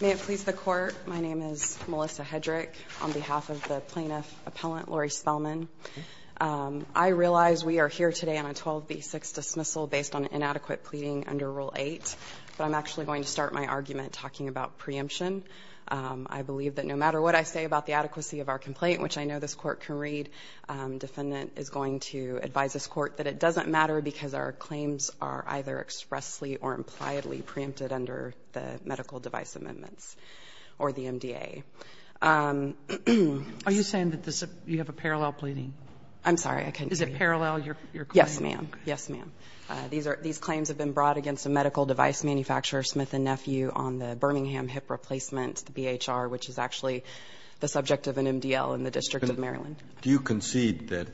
May it please the Court, my name is Melissa Hedrick on behalf of the plaintiff appellant Lori Spellman. I realize we are here today on a 12 v 6 dismissal based on inadequate pleading under Rule 8, but I'm actually going to start my argument talking about preemption. I believe that no matter what I say about the adequacy of our complaint, which I know this court can read, defendant is going to advise this court that it doesn't matter because our device amendments or the MDA. Are you saying that you have a parallel pleading? I'm sorry, I couldn't hear you. Is it parallel, your claim? Yes, ma'am. Yes, ma'am. These claims have been brought against a medical device manufacturer, Smith & Nephew, on the Birmingham hip replacement, the BHR, which is actually the subject of an MDL in the District of Maryland. Do you concede that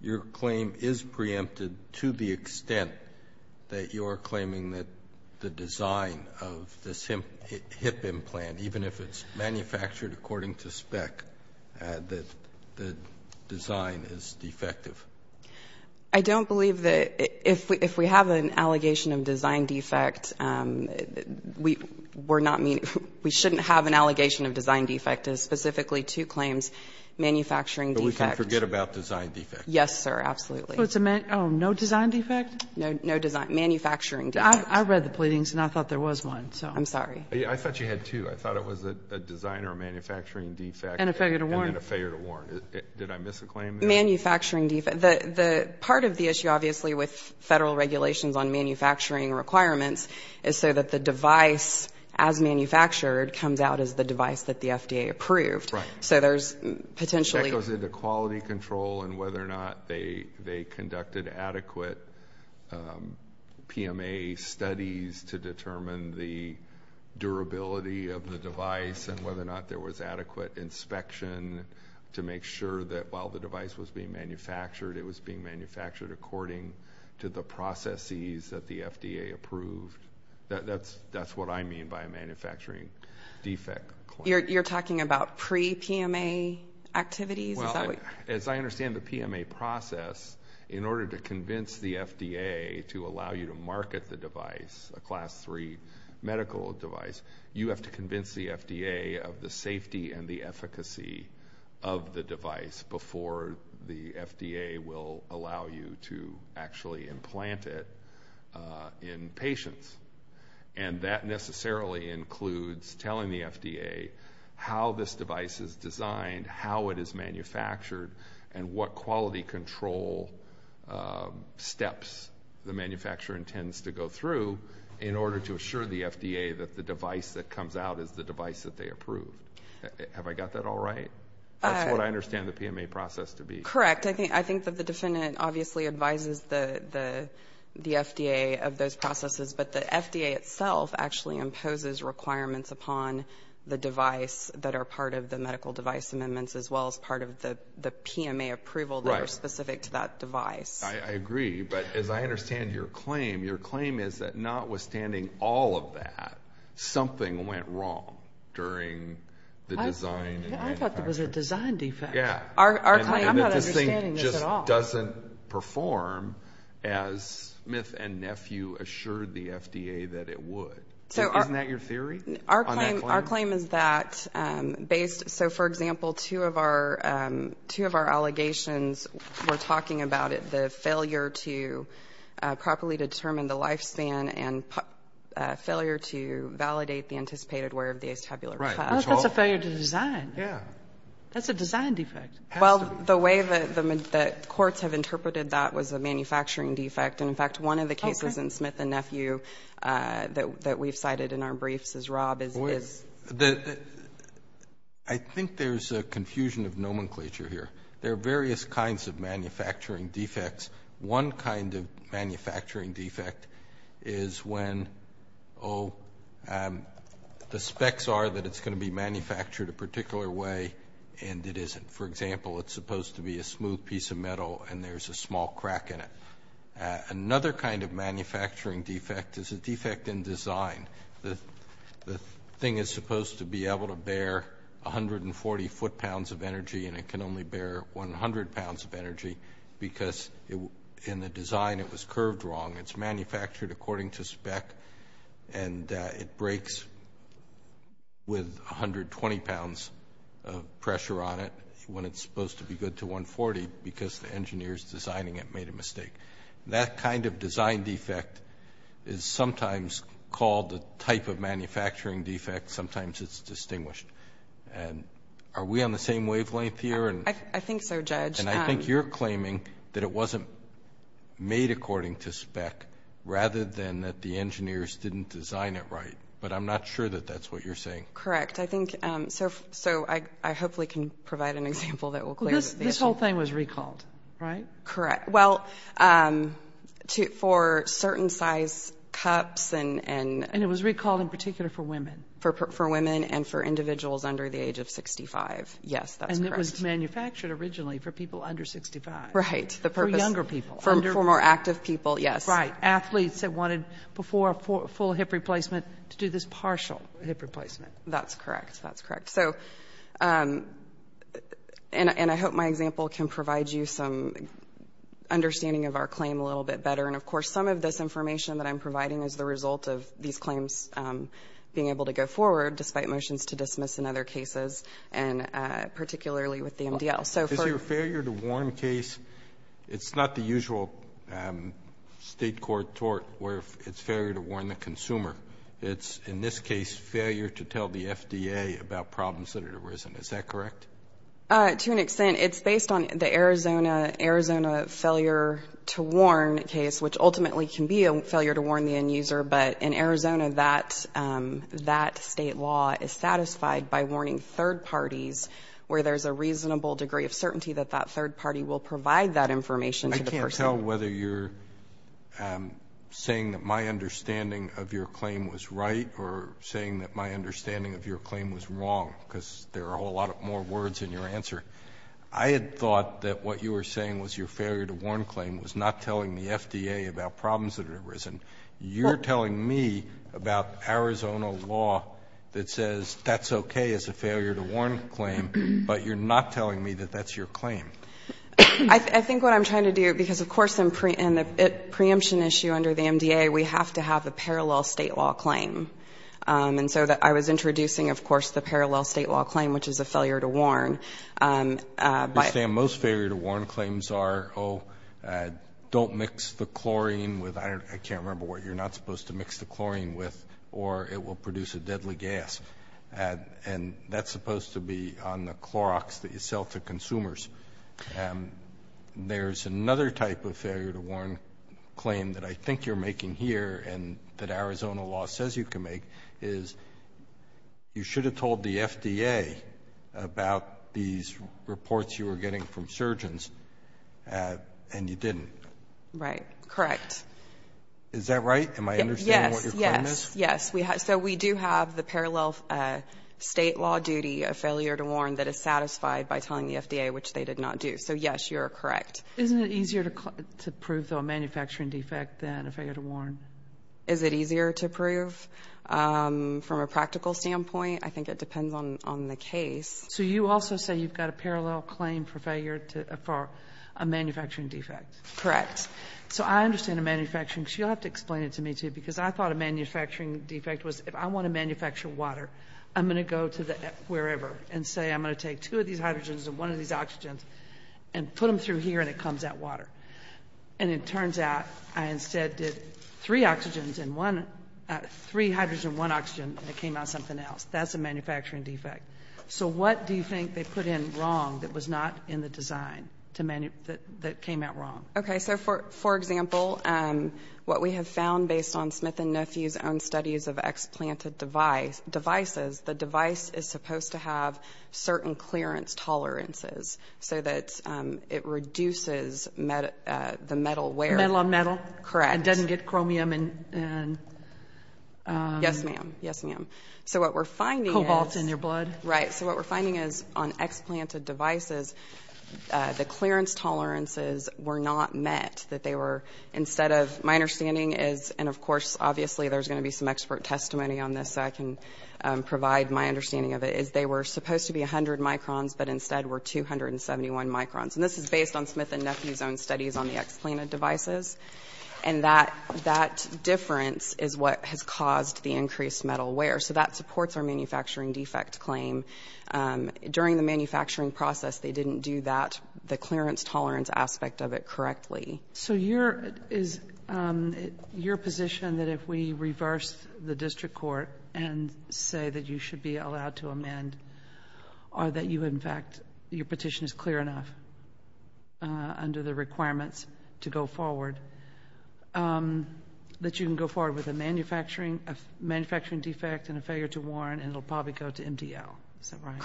your claim is preempted to the extent that you're claiming that the design of this hip implant, even if it's manufactured according to spec, that the design is defective? I don't believe that if we have an allegation of design defect, we shouldn't have an allegation of design defect. Specifically, two claims, manufacturing defect. But we can forget about design defect. Yes, sir, absolutely. Oh, no design defect? No design. Manufacturing defect. I read the pleadings and I thought there was one. I'm sorry. I thought you had two. I thought it was a design or manufacturing defect. And a failure to warn. And a failure to warn. Did I miss a claim there? Manufacturing defect. Part of the issue, obviously, with federal regulations on manufacturing requirements is so that the device as manufactured comes out as the device that the FDA approved. That goes into quality control and whether or not they conducted adequate PMA studies to determine the durability of the device and whether or not there was adequate inspection to make sure that while the device was being manufactured, it was being manufactured according to the processes that the FDA approved. That's what I mean by a manufacturing defect. You're talking about pre-PMA activities? Well, as I understand the PMA process, in order to convince the FDA to allow you to market the device, a class three medical device, you have to convince the FDA of the safety and the efficacy of the device before the FDA will allow you to actually market it. And that generally includes telling the FDA how this device is designed, how it is manufactured, and what quality control steps the manufacturer intends to go through in order to assure the FDA that the device that comes out is the device that they approved. Have I got that all right? That's what I understand the PMA process to be. Correct. I think the defendant obviously advises the FDA of those processes, but the FDA itself actually imposes requirements upon the device that are part of the medical device amendments as well as part of the PMA approval that are specific to that device. I agree. But as I understand your claim, your claim is that notwithstanding all of that, something went wrong during the design and manufacturing. I thought there was a design defect. Our claim just doesn't perform as Smith and Nephew assured the FDA that it would. Isn't that your theory on that claim? Our claim is that based, so for example, two of our allegations were talking about the failure to properly determine the lifespan and failure to validate the anticipated wear of the ace tabular cuff. That's a design defect. Well, the way that courts have interpreted that was a manufacturing defect, and in fact, one of the cases in Smith and Nephew that we've cited in our briefs is Rob is I think there's a confusion of nomenclature here. There are various kinds of manufacturing defect. The specs are that it's going to be manufactured a particular way and it isn't. For example, it's supposed to be a smooth piece of metal and there's a small crack in it. Another kind of manufacturing defect is a defect in design. The thing is supposed to be able to bear 140 foot pounds of energy and it can only bear 100 pounds of energy because in the design it was curved wrong. It's manufactured according to spec and it breaks with 120 pounds of pressure on it when it's supposed to be good to 140 because the engineers designing it made a mistake. That kind of design defect is sometimes called the type of manufacturing defect. Sometimes it's distinguished. Are we on the same wavelength here? I think so, Judge. And I think you're claiming that it wasn't made according to spec rather than that the engineers didn't design it right, but I'm not sure that that's what you're saying. Correct. I hope we can provide an example that will clear the issue. This whole thing was recalled, right? Correct. For certain size cups. And it was recalled in particular for women. For women and for individuals under the age of 65. Yes, that's correct. And it was manufactured originally for people under 65. For younger people. For more active people, yes. Athletes that wanted before a full hip replacement to do this partial hip replacement. That's correct. And I hope my example can provide you some understanding of our claim a little bit better. And of course some of this information that I'm providing is the result of these claims being able to go forward despite motions to dismiss in other cases and particularly with the MDL. Is there a failure to warn case? It's not the usual state court tort where it's failure to warn the consumer. It's, in this case, failure to tell the FDA about problems that have arisen. Is that correct? To an extent. It's based on the Arizona failure to warn case, which ultimately can be a failure to warn the end user. But in Arizona, that state law is satisfied by warning third parties where there's a reasonable degree of certainty that that third party will provide that information to the person. I can't tell whether you're saying that my understanding of your claim was right or saying that my understanding of your claim was wrong, because there are a whole lot more words in your answer. I had thought that what you were saying was your failure to warn claim was not telling the FDA about problems that had arisen. You're telling me about Arizona law that says that's okay as a failure to warn claim, but you're not telling me that that's your claim. I think what I'm trying to do, because, of course, in the preemption issue under the MDA, we have to have a parallel state law claim. And so I was introducing, of course, the parallel state law claim, which is a failure to warn. Most failure to warn claims are, oh, don't mix the chlorine with iron. I can't remember what you're not supposed to mix the chlorine with, or it will produce a deadly gas. And that's supposed to be on the Clorox that you sell to consumers. There's another type of failure to warn claim that I think you're making here and that Arizona law says you can make, is you should have told the FDA about these reports you were getting from surgeons, and you didn't. Right. Correct. Is that right? Am I understanding what your claim is? Yes. Yes. Yes. So we do have the parallel state law duty of failure to warn that is satisfied by telling the FDA, which they did not do. So, yes, you're correct. Isn't it easier to prove, though, a manufacturing defect than a failure to warn? Is it easier to prove from a practical standpoint? I think it depends on the case. So you also say you've got a parallel claim for failure for a manufacturing defect. Correct. So I understand a manufacturing defect. You'll have to explain it to me, too, because I thought a manufacturing defect was if I want to manufacture water, I'm going to go to wherever and say I'm going to take two of these hydrogens and one of these oxygens and put them through here and it comes out water. And it turns out I instead did three hydrogens and one oxygen and it came out something else. That's a manufacturing defect. So what do you think they put in wrong that was not in the design that came out wrong? Okay. So, for example, what we have found based on Smith and Nephew's own studies of explanted devices, the device is supposed to have certain clearance tolerances so that it reduces the metal wear. Metal on metal? Correct. It doesn't get chromium and cobalt in your blood? Right. So what we're finding is on explanted devices, the clearance tolerances were not met. My understanding is, and of course, obviously there's going to be some expert testimony on this so I can provide my understanding of it, is they were supposed to be 100 microns, but instead were 271 microns. And this is based on Smith and Nephew's own studies on the explanted devices. And that difference is what has caused the increased metal wear. So that supports our manufacturing defect claim. During the manufacturing process, they didn't do the clearance tolerance aspect of it correctly. So your position that if we reverse the district court and say that you should be allowed to amend or that you, in fact, your petition is clear enough under the requirements to go forward, that you can go forward with a manufacturing defect and a failure to warrant and it will probably go to MDL. Is that right?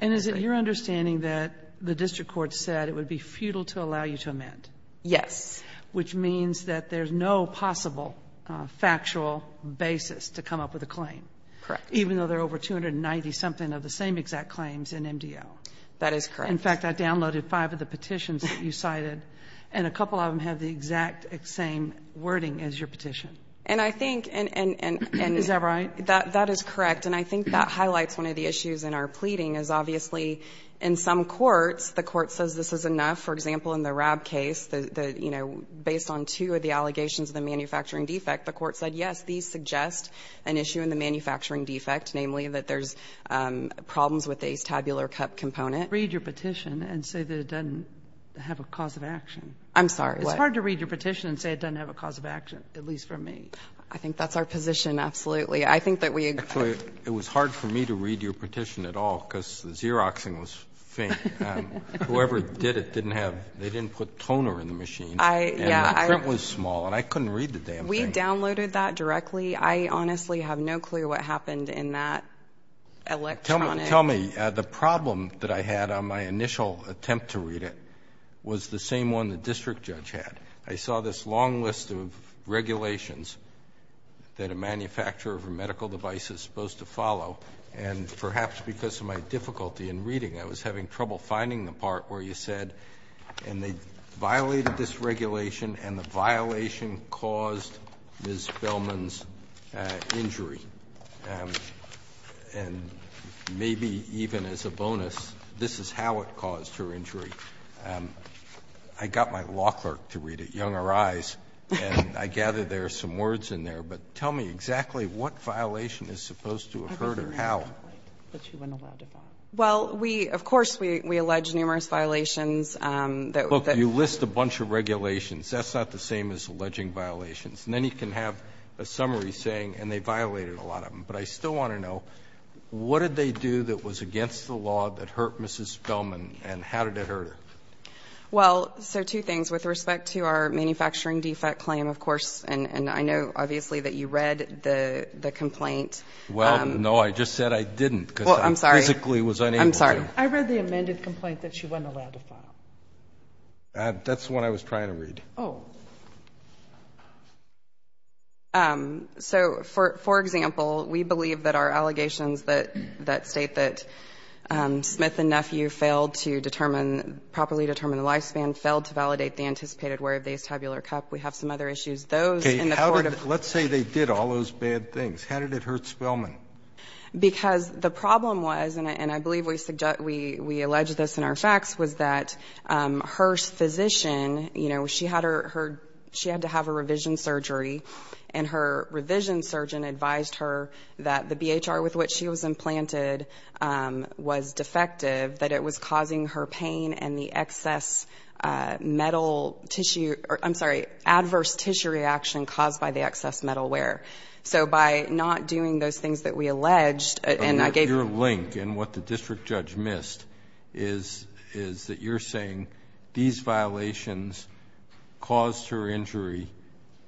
And is it your understanding that the district court said it would be futile to allow you to amend? Yes. Which means that there's no possible factual basis to come up with a claim. Correct. Even though there are over 290-something of the same exact claims in MDL. That is correct. In fact, I downloaded five of the petitions that you cited, and a couple of them have the exact same wording as your petition. Is that right? That is correct. And I think that highlights one of the issues in our pleading, is obviously in some courts, the court says this is enough. For example, in the RAB case, the, you know, based on two of the allegations of the manufacturing defect, the court said, yes, these suggest an issue in the manufacturing defect, namely that there's problems with the ace tabular cup component. Read your petition and say that it doesn't have a cause of action. I'm sorry, what? It's hard to read your petition and say it doesn't have a cause of action, at least for me. I think that's our position, absolutely. I think that we agree. It was hard for me to read your petition at all, because the Xeroxing was faint. Whoever did it didn't have, they didn't put toner in the machine. Yeah. And the print was small, and I couldn't read the damn thing. We downloaded that directly. I honestly have no clear what happened in that electronic. Tell me, the problem that I had on my initial attempt to read it was the same one the district judge had. I saw this long list of regulations that a manufacturer of a medical device is supposed to follow, and perhaps because of my difficulty in reading, I was having trouble finding the part where you said, and they violated this regulation and the violation caused Ms. Bellman's injury. And maybe even as a bonus, this is how it caused her injury. I got my law clerk to read it, Younger Eyes, and I gathered there are some words in there. But tell me exactly what violation is supposed to have hurt her. How? Well, we, of course, we allege numerous violations. Look, you list a bunch of regulations. That's not the same as alleging violations. And then you can have a summary saying, and they violated a lot of them. But I still want to know, what did they do that was against the law that hurt Mrs. Bellman, and how did it hurt her? Well, so two things. With respect to our manufacturing defect claim, of course, and I know, obviously, that you read the complaint. Well, no, I just said I didn't. Well, I'm sorry. Because I physically was unable to. I'm sorry. I read the amended complaint that she wasn't allowed to file. That's the one I was trying to read. Oh. So, for example, we believe that our allegations that state that Smith and Nephew failed to properly determine the lifespan, failed to validate the anticipated wear of the ace tabular cup. We have some other issues. Let's say they did all those bad things. How did it hurt Spellman? Because the problem was, and I believe we allege this in our facts, was that her physician, you know, she had to have a revision surgery. And her revision surgeon advised her that the BHR with which she was implanted was defective, that it was causing her pain and the excess metal tissue or, I'm sorry, the reaction caused by the excess metal wear. So, by not doing those things that we alleged and I gave... Your link and what the district judge missed is that you're saying these violations caused her injury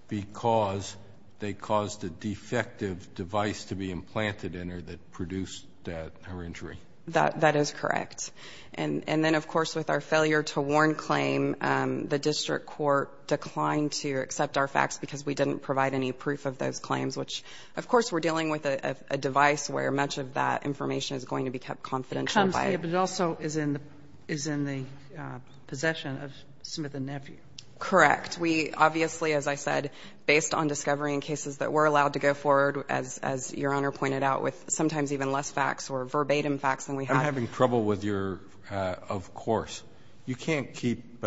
because they caused a defective device to be implanted in her that produced her injury. That is correct. And then, of course, with our failure to warn claim, the district court declined to accept our facts because we didn't provide any proof of those claims, which, of course, we're dealing with a device where much of that information is going to be kept confidential by... It comes to you, but it also is in the possession of Smith and Nephew. Correct. We obviously, as I said, based on discovery and cases that were allowed to go forward, as Your Honor pointed out, with sometimes even less facts or verbatim facts than we have... I'm having trouble with your of course. You can't keep...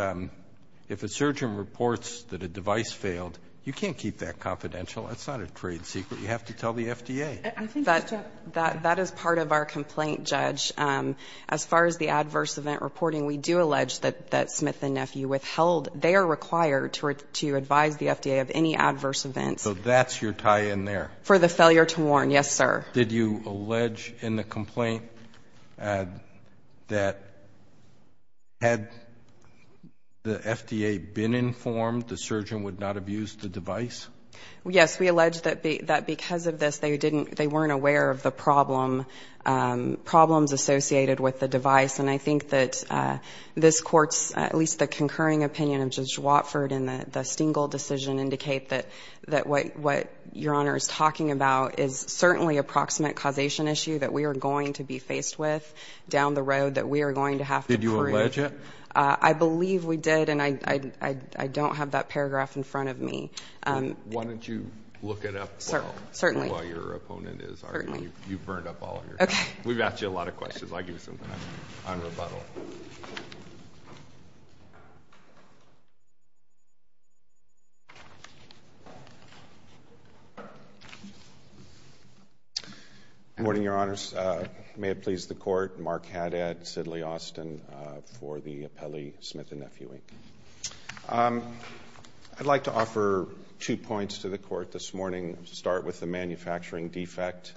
If a surgeon reports that a device failed, you can't keep that confidential. That's not a trade secret. You have to tell the FDA. That is part of our complaint, Judge. As far as the adverse event reporting, we do allege that Smith and Nephew withheld their required to advise the FDA of any adverse events. So that's your tie-in there? For the failure to warn, yes, sir. Did you allege in the complaint that had the FDA been informed, the surgeon would not have used the device? Yes. We allege that because of this, they weren't aware of the problems associated with the device. And I think that this Court's, at least the concurring opinion of Judge Watford in the Stengel decision, indicate that what Your Honor is talking about is certainly a proximate causation issue that we are going to be faced with down the road, that we are going to have to prove. Did you allege it? I believe we did, and I don't have that paragraph in front of me. Why don't you look it up while... Certainly.... while your opponent is arguing. Certainly. You've burned up all of your time. We've asked you a lot of questions. I'll give you some time on rebuttal. Good morning, Your Honors. May it please the Court, Mark Haddad, Sidley Austin for the appellee, Smith & Nephew, Inc. I'd like to offer two points to the Court this morning. Start with the manufacturing defect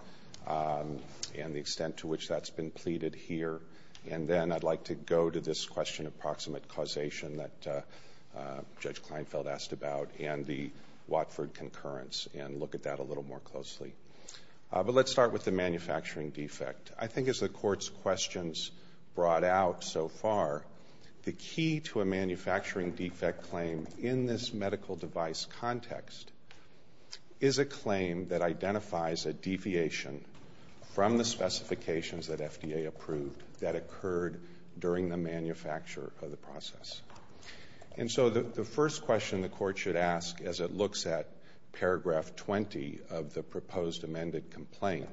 and the extent to which that's been pleaded here, and then I'd like to go to this question of proximate causation that Judge Kleinfeld asked about and the Watford concurrence and look at that a little more closely. But let's start with the manufacturing defect. I think as the Court's questions brought out so far, the key to a manufacturing defect claim in this medical device context is a claim that identifies a deviation from the specifications that FDA approved that occurred during the manufacture of the process. And so the first question the Court should ask as it looks at paragraph 20 of the proposed amended complaint,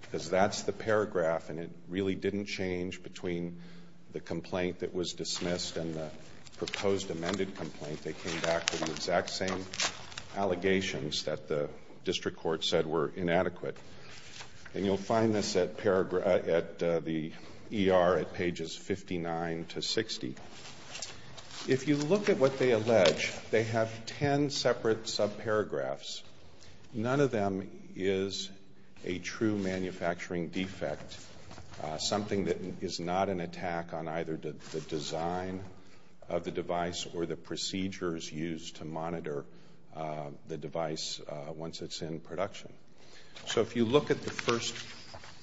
because that's the paragraph and it really didn't change between the complaint that was dismissed and the proposed amended complaint. They came back to the exact same allegations that the district court said were inadequate. And you'll find this at the ER at pages 59 to 60. If you look at what they allege, they have ten separate subparagraphs. None of them is a true manufacturing defect, something that is not an attack on either the design of the device or the procedures used to monitor the device once it's in production. So if you look at the first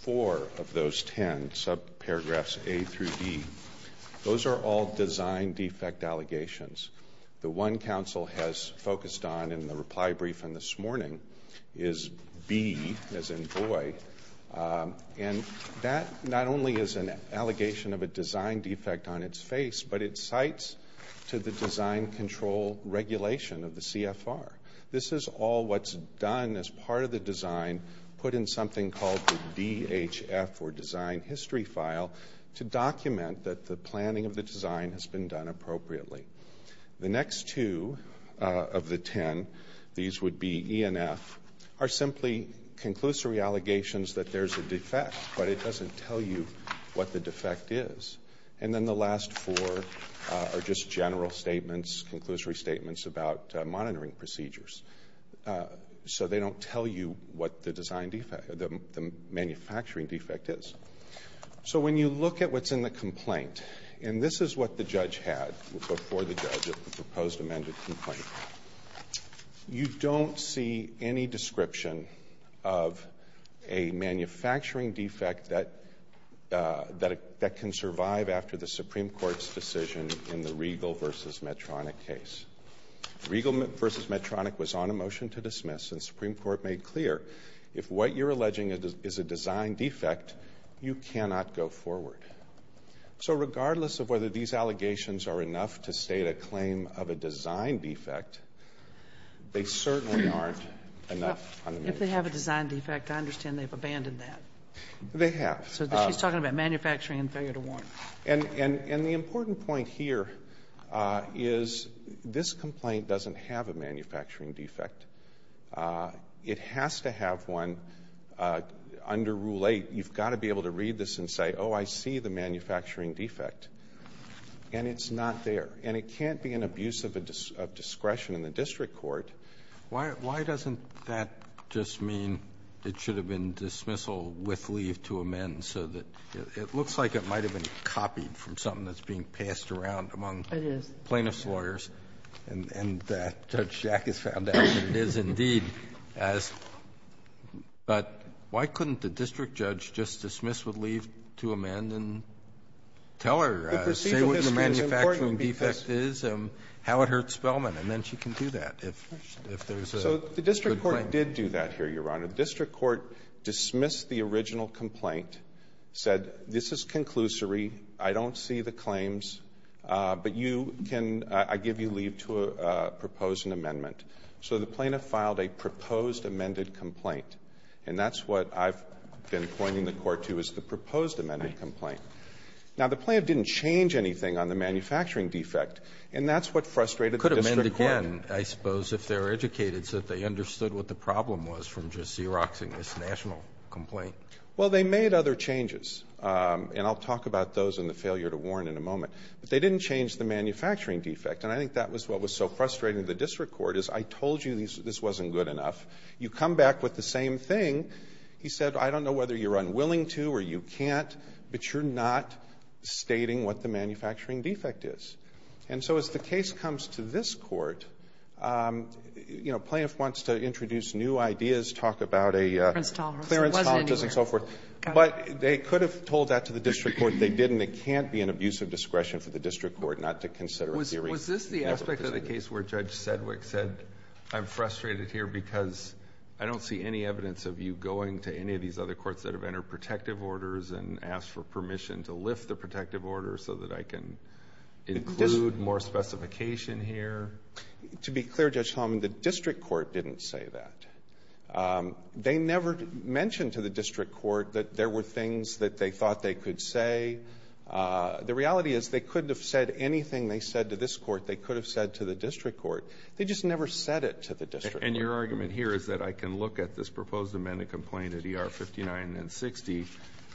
four of those ten subparagraphs, A through D, those are all design defect allegations. The one counsel has focused on in the reply briefing this morning is B, as in boy. And that not only is an allegation of a design defect on its face, but it cites to the design control regulation of the CFR. This is all what's done as part of the design, put in something called the DHF, or design history file, to document that the planning of the design has been done appropriately. The next two of the ten, these would be ENF, are simply conclusory allegations that there's a defect, but it doesn't tell you what the defect is. And then the last four are just general statements, conclusory statements about monitoring procedures. So they don't tell you what the manufacturing defect is. So when you look at what's in the complaint, and this is what the judge had before the judge at the proposed amended complaint, you don't see any description of a manufacturing defect that can survive after the Supreme Court's decision in the Regal v. Medtronic case. Regal v. Medtronic was on a motion to dismiss, and the Supreme Court made clear, if what you're alleging is a design defect, you cannot go forward. So regardless of whether these allegations are enough to state a claim of a design defect, they certainly aren't enough. If they have a design defect, I understand they've abandoned that. They have. So she's talking about manufacturing and failure to warrant. And the important point here is this complaint doesn't have a manufacturing defect. It has to have one under Rule 8. You've got to be able to read this and say, oh, I see the manufacturing defect. And it's not there. And it can't be an abuse of discretion in the district court. Why doesn't that just mean it should have been dismissal with leave to amend so that it looks like it might have been copied from something that's being passed around among plaintiff's lawyers? And Judge Jack has found out that it is indeed. But why couldn't the district judge just dismiss with leave to amend and tell her, say what the manufacturing defect is and how it hurts Spellman? And then she can do that if there's a complaint. So the district court did do that here, Your Honor. The district court dismissed the original complaint, said this is conclusory. I don't see the claims. But you can ñ I give you leave to propose an amendment. So the plaintiff filed a proposed amended complaint. And that's what I've been pointing the court to is the proposed amended complaint. Now, the plaintiff didn't change anything on the manufacturing defect, and that's what frustrated the district court. Again, I suppose if they're educated so that they understood what the problem was from just Xeroxing this national complaint. Well, they made other changes. And I'll talk about those and the failure to warn in a moment. But they didn't change the manufacturing defect. And I think that was what was so frustrating to the district court is I told you this wasn't good enough. You come back with the same thing. He said, I don't know whether you're unwilling to or you can't, but you're not stating what the manufacturing defect is. And so as the case comes to this court, you know, plaintiff wants to introduce new ideas, talk about a ñ Clarence Tolerance. Clarence Tolerance and so forth. But they could have told that to the district court. They didn't. It can't be an abuse of discretion for the district court not to consider a theory ñ Was this the aspect of the case where Judge Sedwick said, I'm frustrated here because I don't see any evidence of you going to any of these other courts that have entered protective orders and asked for permission to lift the protective order so that I can include more specification here? To be clear, Judge Holman, the district court didn't say that. They never mentioned to the district court that there were things that they thought they could say. The reality is they couldn't have said anything they said to this court they could have said to the district court. They just never said it to the district court. And your argument here is that I can look at this proposed amendment complaint at ER 59 and 60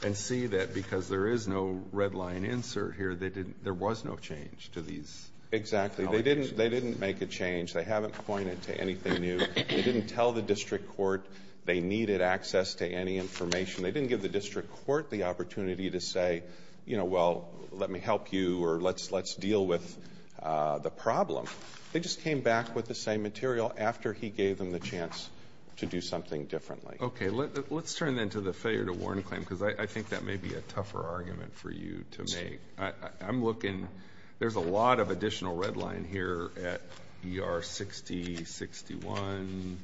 and see that because there is no red line insert here, there was no change to these allegations. Exactly. They didn't make a change. They haven't pointed to anything new. They didn't tell the district court they needed access to any information. They didn't give the district court the opportunity to say, you know, well, let me help you or let's deal with the problem. They just came back with the same material after he gave them the chance to do something differently. Okay. Let's turn then to the failure to warrant a claim because I think that may be a tougher argument for you to make. I'm looking. There's a lot of additional red line here at ER 60, 61,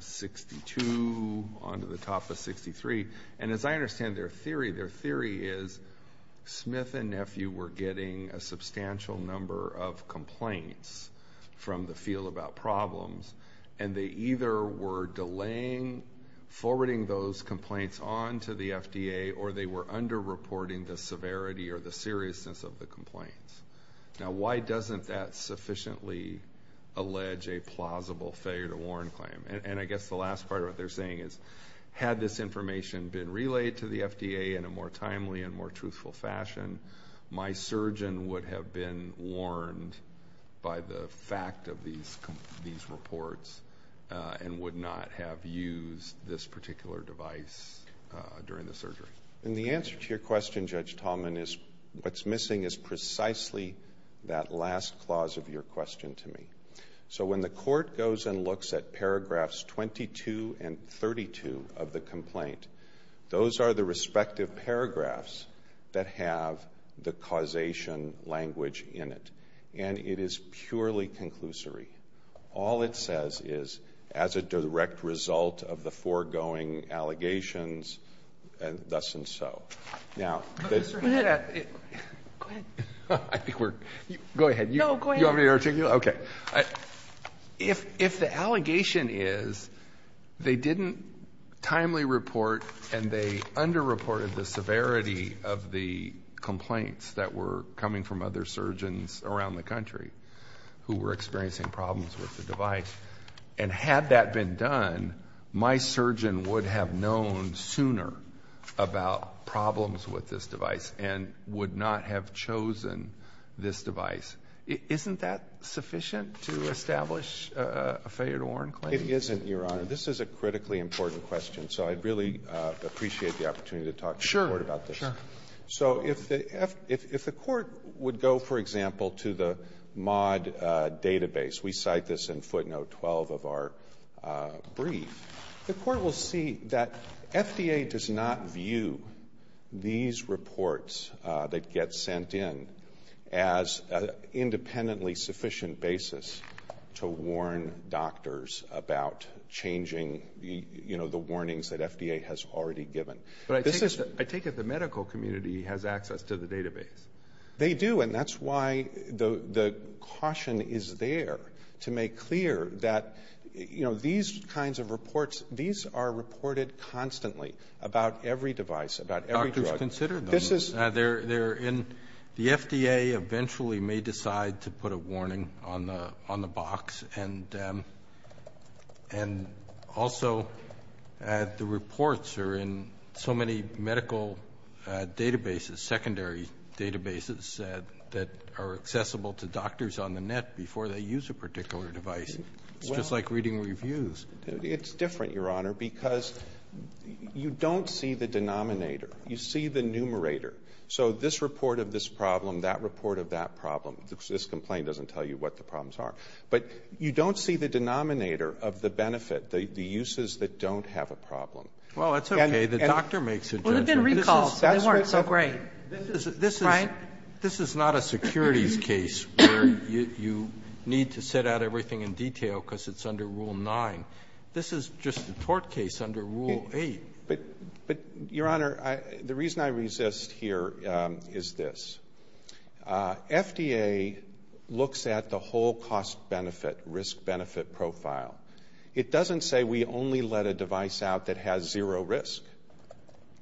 62, on to the top of 63. And as I understand their theory, their theory is Smith and Nephew were getting a substantial number of complaints from the field about problems, and they either were delaying forwarding those complaints on to the FDA or they were under-reporting the severity or the seriousness of the complaints. Now, why doesn't that sufficiently allege a plausible failure to warrant claim? And I guess the last part of what they're saying is had this information been relayed to the FDA in a more timely and more truthful fashion, my surgeon would have been and would not have used this particular device during the surgery. And the answer to your question, Judge Tallman, is what's missing is precisely that last clause of your question to me. So when the court goes and looks at paragraphs 22 and 32 of the complaint, those are the respective paragraphs that have the causation language in it, and it is purely conclusory. All it says is, as a direct result of the foregoing allegations, and thus and so. Now, the... Go ahead. I think we're... Go ahead. No, go ahead. You want me to articulate? Okay. If the allegation is they didn't timely report and they under-reported the severity of the complaints that were coming from other surgeons around the country who were experiencing problems with the device, and had that been done, my surgeon would have known sooner about problems with this device and would not have chosen this device. Isn't that sufficient to establish a failure to warrant claim? It isn't, Your Honor. This is a critically important question, so I'd really appreciate the opportunity to talk to the court about this. Sure. Sure. So if the court would go, for example, to the MAUD database, we cite this in footnote 12 of our brief, the court will see that FDA does not view these reports that get sent in as an independently sufficient basis to warn doctors about changing, you know, the warnings that FDA has already given. But I take it the medical community has access to the database. They do, and that's why the caution is there to make clear that, you know, these kinds of reports, these are reported constantly about every device, about every drug. Doctors consider them. They're in the FDA eventually may decide to put a warning on the box, and also the medical community. So many medical databases, secondary databases that are accessible to doctors on the net before they use a particular device. It's just like reading reviews. It's different, Your Honor, because you don't see the denominator. You see the numerator. So this report of this problem, that report of that problem, this complaint doesn't tell you what the problems are. But you don't see the denominator of the benefit, the uses that don't have a problem. Well, it's okay. The doctor makes a judgment. Well, they've been recalled. They weren't so great. Right? This is not a securities case where you need to set out everything in detail because it's under Rule 9. This is just a tort case under Rule 8. But, Your Honor, the reason I resist here is this. FDA looks at the whole cost-benefit, risk-benefit profile. It doesn't say we only let a device out that has zero risk.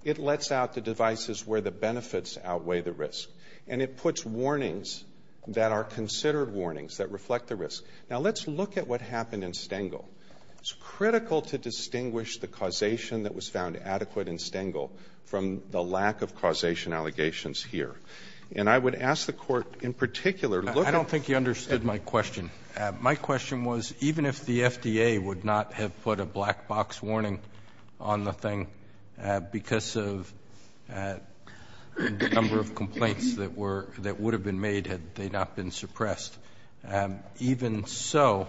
It lets out the devices where the benefits outweigh the risk. And it puts warnings that are considered warnings that reflect the risk. Now, let's look at what happened in Stengel. It's critical to distinguish the causation that was found adequate in Stengel from the lack of causation allegations here. And I would ask the Court, in particular, look at the cost-benefit. I don't think you understood my question. My question was, even if the FDA would not have put a black-box warning on the thing because of the number of complaints that would have been made had they not been suppressed, even so,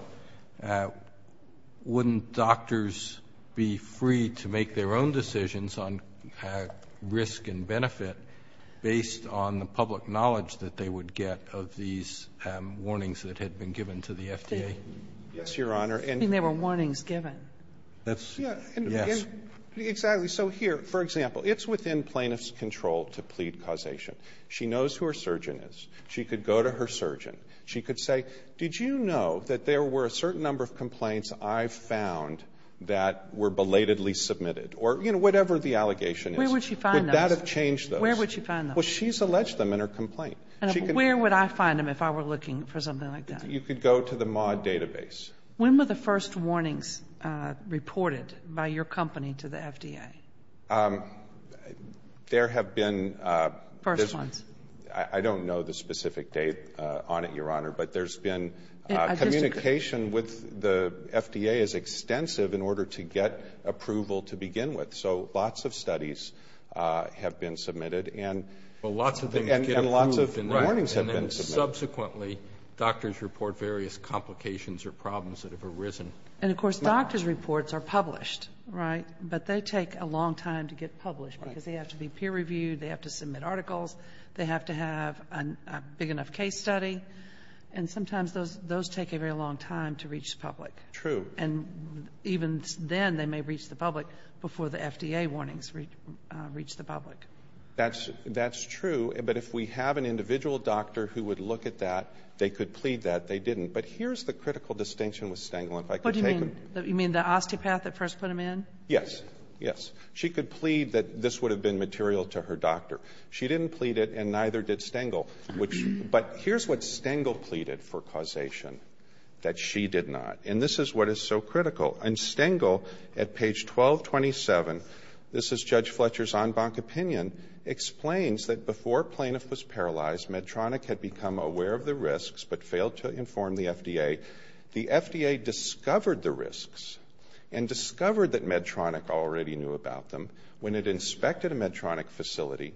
wouldn't doctors be free to make their own decisions on risk and benefit based on the public knowledge that they would get of these warnings that had been given to the FDA? Yes, Your Honor. And there were warnings given. Yes. Exactly. So here, for example, it's within plaintiff's control to plead causation. She knows who her surgeon is. She could go to her surgeon. She could say, did you know that there were a certain number of complaints I've found that were belatedly submitted? Or, you know, whatever the allegation is. Where would she find those? Would that have changed those? Where would she find them? Well, she's alleged them in her complaint. Where would I find them if I were looking for something like that? You could go to the MAW database. When were the first warnings reported by your company to the FDA? There have been... First ones. I don't know the specific date on it, Your Honor, but there's been... I disagree. Communication with the FDA is extensive in order to get approval to begin with. So lots of studies have been submitted. Lots of things get approved. And lots of warnings have been submitted. Subsequently, doctors report various complications or problems that have arisen. And, of course, doctors' reports are published, right? But they take a long time to get published because they have to be peer reviewed. They have to submit articles. They have to have a big enough case study. And sometimes those take a very long time to reach the public. True. And even then they may reach the public before the FDA warnings reach the public. That's true. But if we have an individual doctor who would look at that, they could plead that. They didn't. But here's the critical distinction with Stengel. What do you mean? You mean the osteopath that first put him in? Yes. Yes. She could plead that this would have been material to her doctor. She didn't plead it, and neither did Stengel. But here's what Stengel pleaded for causation, that she did not. And this is what is so critical. And Stengel, at page 1227, this is Judge Fletcher's en banc opinion, explains that before Plaintiff was paralyzed, Medtronic had become aware of the risks but failed to inform the FDA. The FDA discovered the risks and discovered that Medtronic already knew about them when it inspected a Medtronic facility.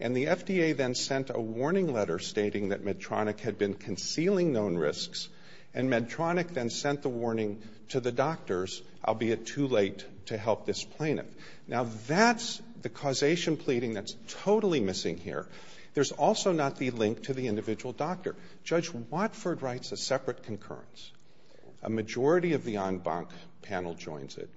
And the FDA then sent a warning letter stating that Medtronic had been concealing known risks. And Medtronic then sent the warning to the doctors, albeit too late, to help this plaintiff. Now, that's the causation pleading that's totally missing here. There's also not the link to the individual doctor. Judge Watford writes a separate concurrence. A majority of the en banc panel joins it.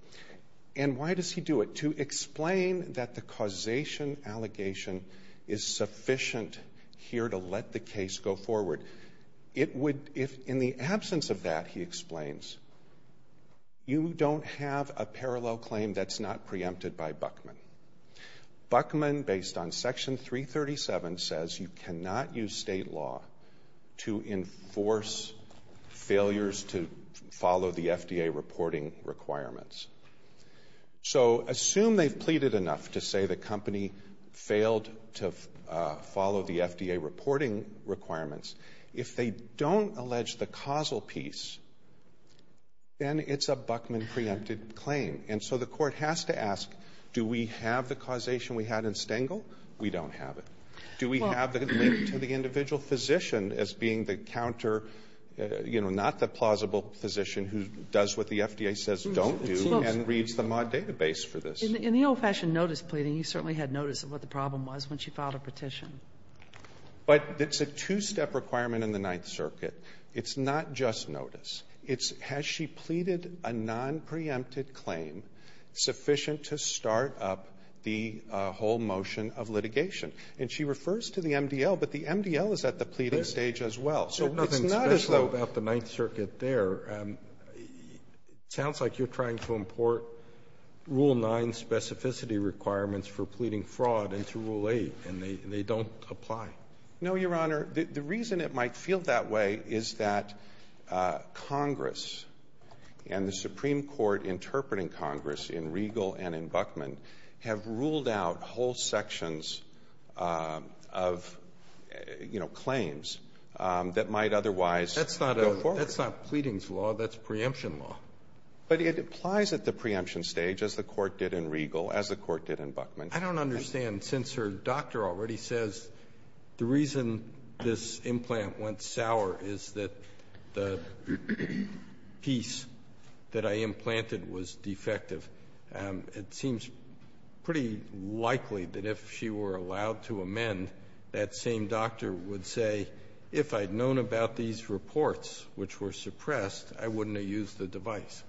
And why does he do it? To explain that the causation allegation is sufficient here to let the case go forward. In the absence of that, he explains, you don't have a parallel claim that's not preempted by Buckman. Buckman, based on Section 337, says you cannot use state law to enforce failures to follow the FDA reporting requirements. So assume they've pleaded enough to say the company failed to follow the FDA reporting requirements. If they don't allege the causal piece, then it's a Buckman preempted claim. And so the court has to ask, do we have the causation we had in Stengel? We don't have it. Do we have the link to the individual physician as being the counter, you know, not the plausible physician who does what the FDA says don't do and reads the mod database for this? In the old-fashioned notice pleading, you certainly had notice of what the problem was when she filed a petition. But it's a two-step requirement in the Ninth Circuit. It's not just notice. It's has she pleaded a nonpreempted claim sufficient to start up the whole motion of litigation. And she refers to the MDL, but the MDL is at the pleading stage as well. So nothing special about the Ninth Circuit there. It sounds like you're trying to import Rule 9 specificity requirements for pleading fraud into Rule 8, and they don't apply. No, Your Honor. The reason it might feel that way is that Congress and the Supreme Court interpreting Congress in Regal and in Buckman have ruled out whole sections of, you know, claims that might otherwise go forward. That's not pleadings law. That's preemption law. But it applies at the preemption stage, as the Court did in Regal, as the Court did in Buckman. I don't understand. And since her doctor already says the reason this implant went sour is that the piece that I implanted was defective, it seems pretty likely that if she were allowed to amend, that same doctor would say, if I'd known about these reports, which were suppressed, I wouldn't have used the device.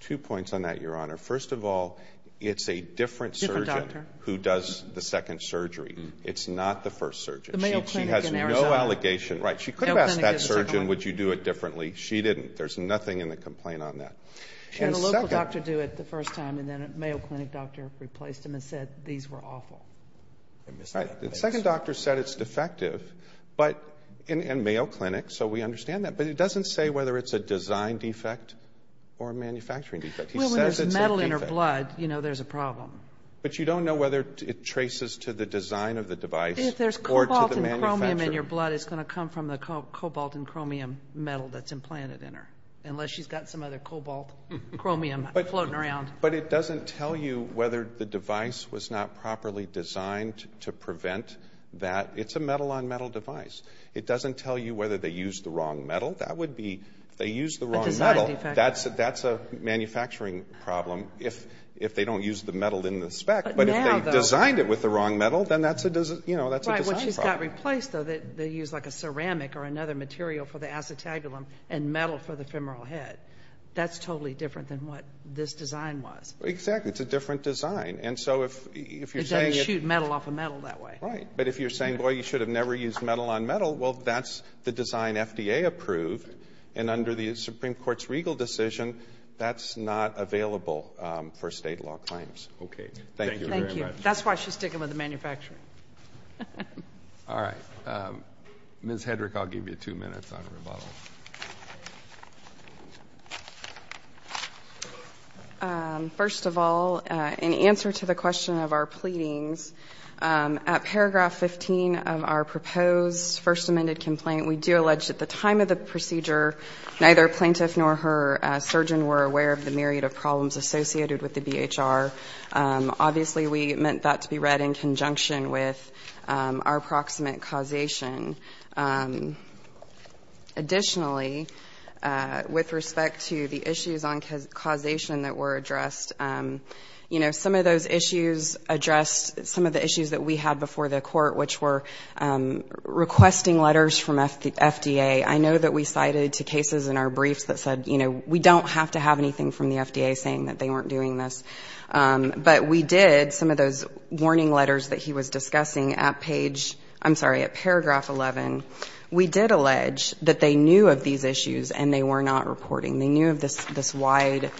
Two points on that, Your Honor. First of all, it's a different surgeon who does the second surgery. It's not the first surgeon. She has no allegation. Right. She could have asked that surgeon, would you do it differently? She didn't. There's nothing in the complaint on that. And the local doctor do it the first time, and then a Mayo Clinic doctor replaced him and said these were awful. The second doctor said it's defective, and Mayo Clinic, so we understand that. But it doesn't say whether it's a design defect or a manufacturing defect. He says it's a defect. Well, when there's metal in her blood, you know there's a problem. But you don't know whether it traces to the design of the device or to the manufacturer. If there's cobalt and chromium in your blood, it's going to come from the cobalt and chromium metal that's implanted in her, unless she's got some other cobalt, chromium floating around. But it doesn't tell you whether the device was not properly designed to prevent that. It's a metal-on-metal device. It doesn't tell you whether they used the wrong metal. If they used the wrong metal, that's a manufacturing problem. If they don't use the metal in the spec, but if they designed it with the wrong metal, then that's a design problem. Right, but she's got replaced, though. They used like a ceramic or another material for the acetabulum and metal for the femoral head. That's totally different than what this design was. Exactly. It's a different design. It doesn't shoot metal off of metal that way. Right. But if you're saying, boy, you should have never used metal-on-metal, well, that's the design FDA approved. And under the Supreme Court's regal decision, that's not available for State law claims. Okay. Thank you very much. Thank you. That's why she's sticking with the manufacturing. All right. Ms. Hedrick, I'll give you two minutes on rebuttal. First of all, in answer to the question of our pleadings, at paragraph 15 of our proposed First Amendment complaint, we do allege that at the time of the procedure, neither plaintiff nor her surgeon were aware of the myriad of problems associated with the BHR. Obviously, we meant that to be read in conjunction with our proximate causation. Additionally, with respect to the issues on causation that were addressed, you know, some of those issues addressed some of the issues that we had before the court, which were requesting letters from FDA. I know that we cited to cases in our briefs that said, you know, we don't have to have anything from the FDA saying that they weren't doing this. But we did, some of those warning letters that he was discussing at page ‑‑ I'm sorry, at paragraph 11, we did allege that they knew of these issues and they were not reporting. They knew of this wide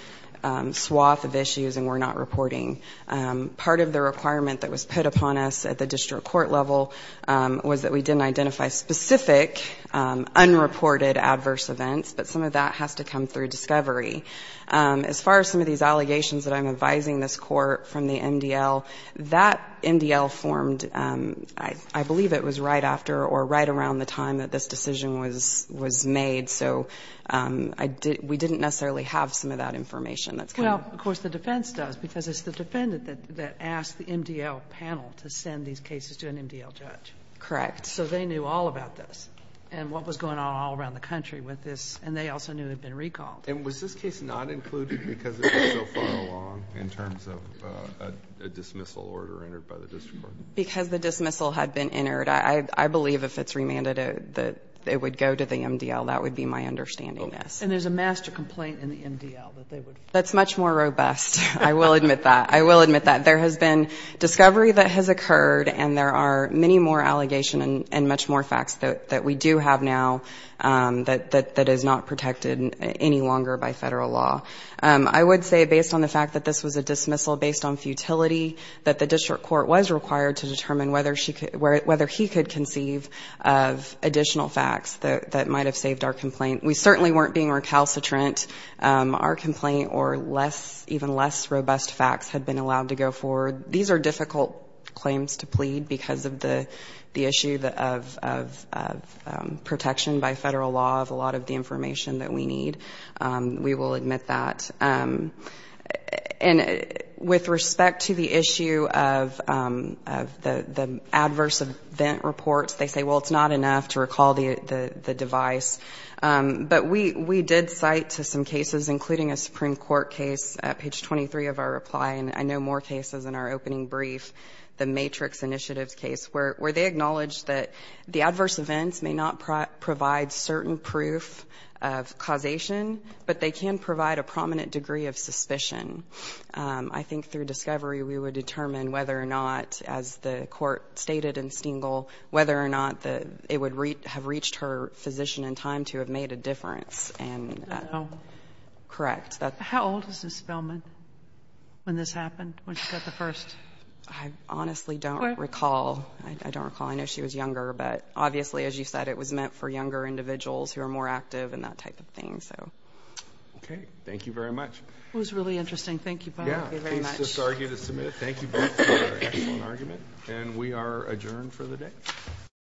swath of issues and were not reporting. Part of the requirement that was put upon us at the district court level was that we didn't identify specific unreported adverse events, but some of that has to come through discovery. As far as some of these allegations that I'm advising this court from the MDL, that MDL formed, I believe it was right after or right around the time that this decision was made. So we didn't necessarily have some of that information. Well, of course, the defense does because it's the defendant that asked the MDL panel to send these cases to an MDL judge. Correct. So they knew all about this and what was going on all around the country with this, and they also knew they'd been recalled. And was this case not included because it was so far along in terms of a dismissal order entered by the district court? Because the dismissal had been entered, I believe if it's remanded that it would go to the MDL, that would be my understanding. And there's a master complaint in the MDL that they would? That's much more robust. I will admit that. I will admit that. There has been discovery that has occurred, and there are many more allegations and much more facts that we do have now that is not protected any longer by Federal law. I would say based on the fact that this was a dismissal based on futility, that the district court was required to determine whether he could conceive of additional facts that might have saved our complaint. We certainly weren't being recalcitrant. Our complaint or even less robust facts had been allowed to go forward. These are difficult claims to plead because of the issue of protection by Federal law of a lot of the information that we need. We will admit that. And with respect to the issue of the adverse event reports, they say, well, it's not enough to recall the device. But we did cite to some cases, including a Supreme Court case at page 23 of our reply, and I know more cases in our opening brief, the Matrix Initiatives case, where they acknowledged that the adverse events may not provide certain proof of causation, but they can provide a prominent degree of suspicion. I think through discovery we would determine whether or not, as the court stated in Stengel, whether or not it would have reached her physician in time to have made a difference. Correct. How old is Ms. Feldman when this happened, when she got the first? I honestly don't recall. I don't recall. I know she was younger, but obviously, as you said, it was meant for younger individuals who are more active and that type of thing. Okay. Thank you very much. It was really interesting. Thank you, Bob. Thank you very much. Please disargue to submit. Thank you both for your excellent argument. And we are adjourned for the day.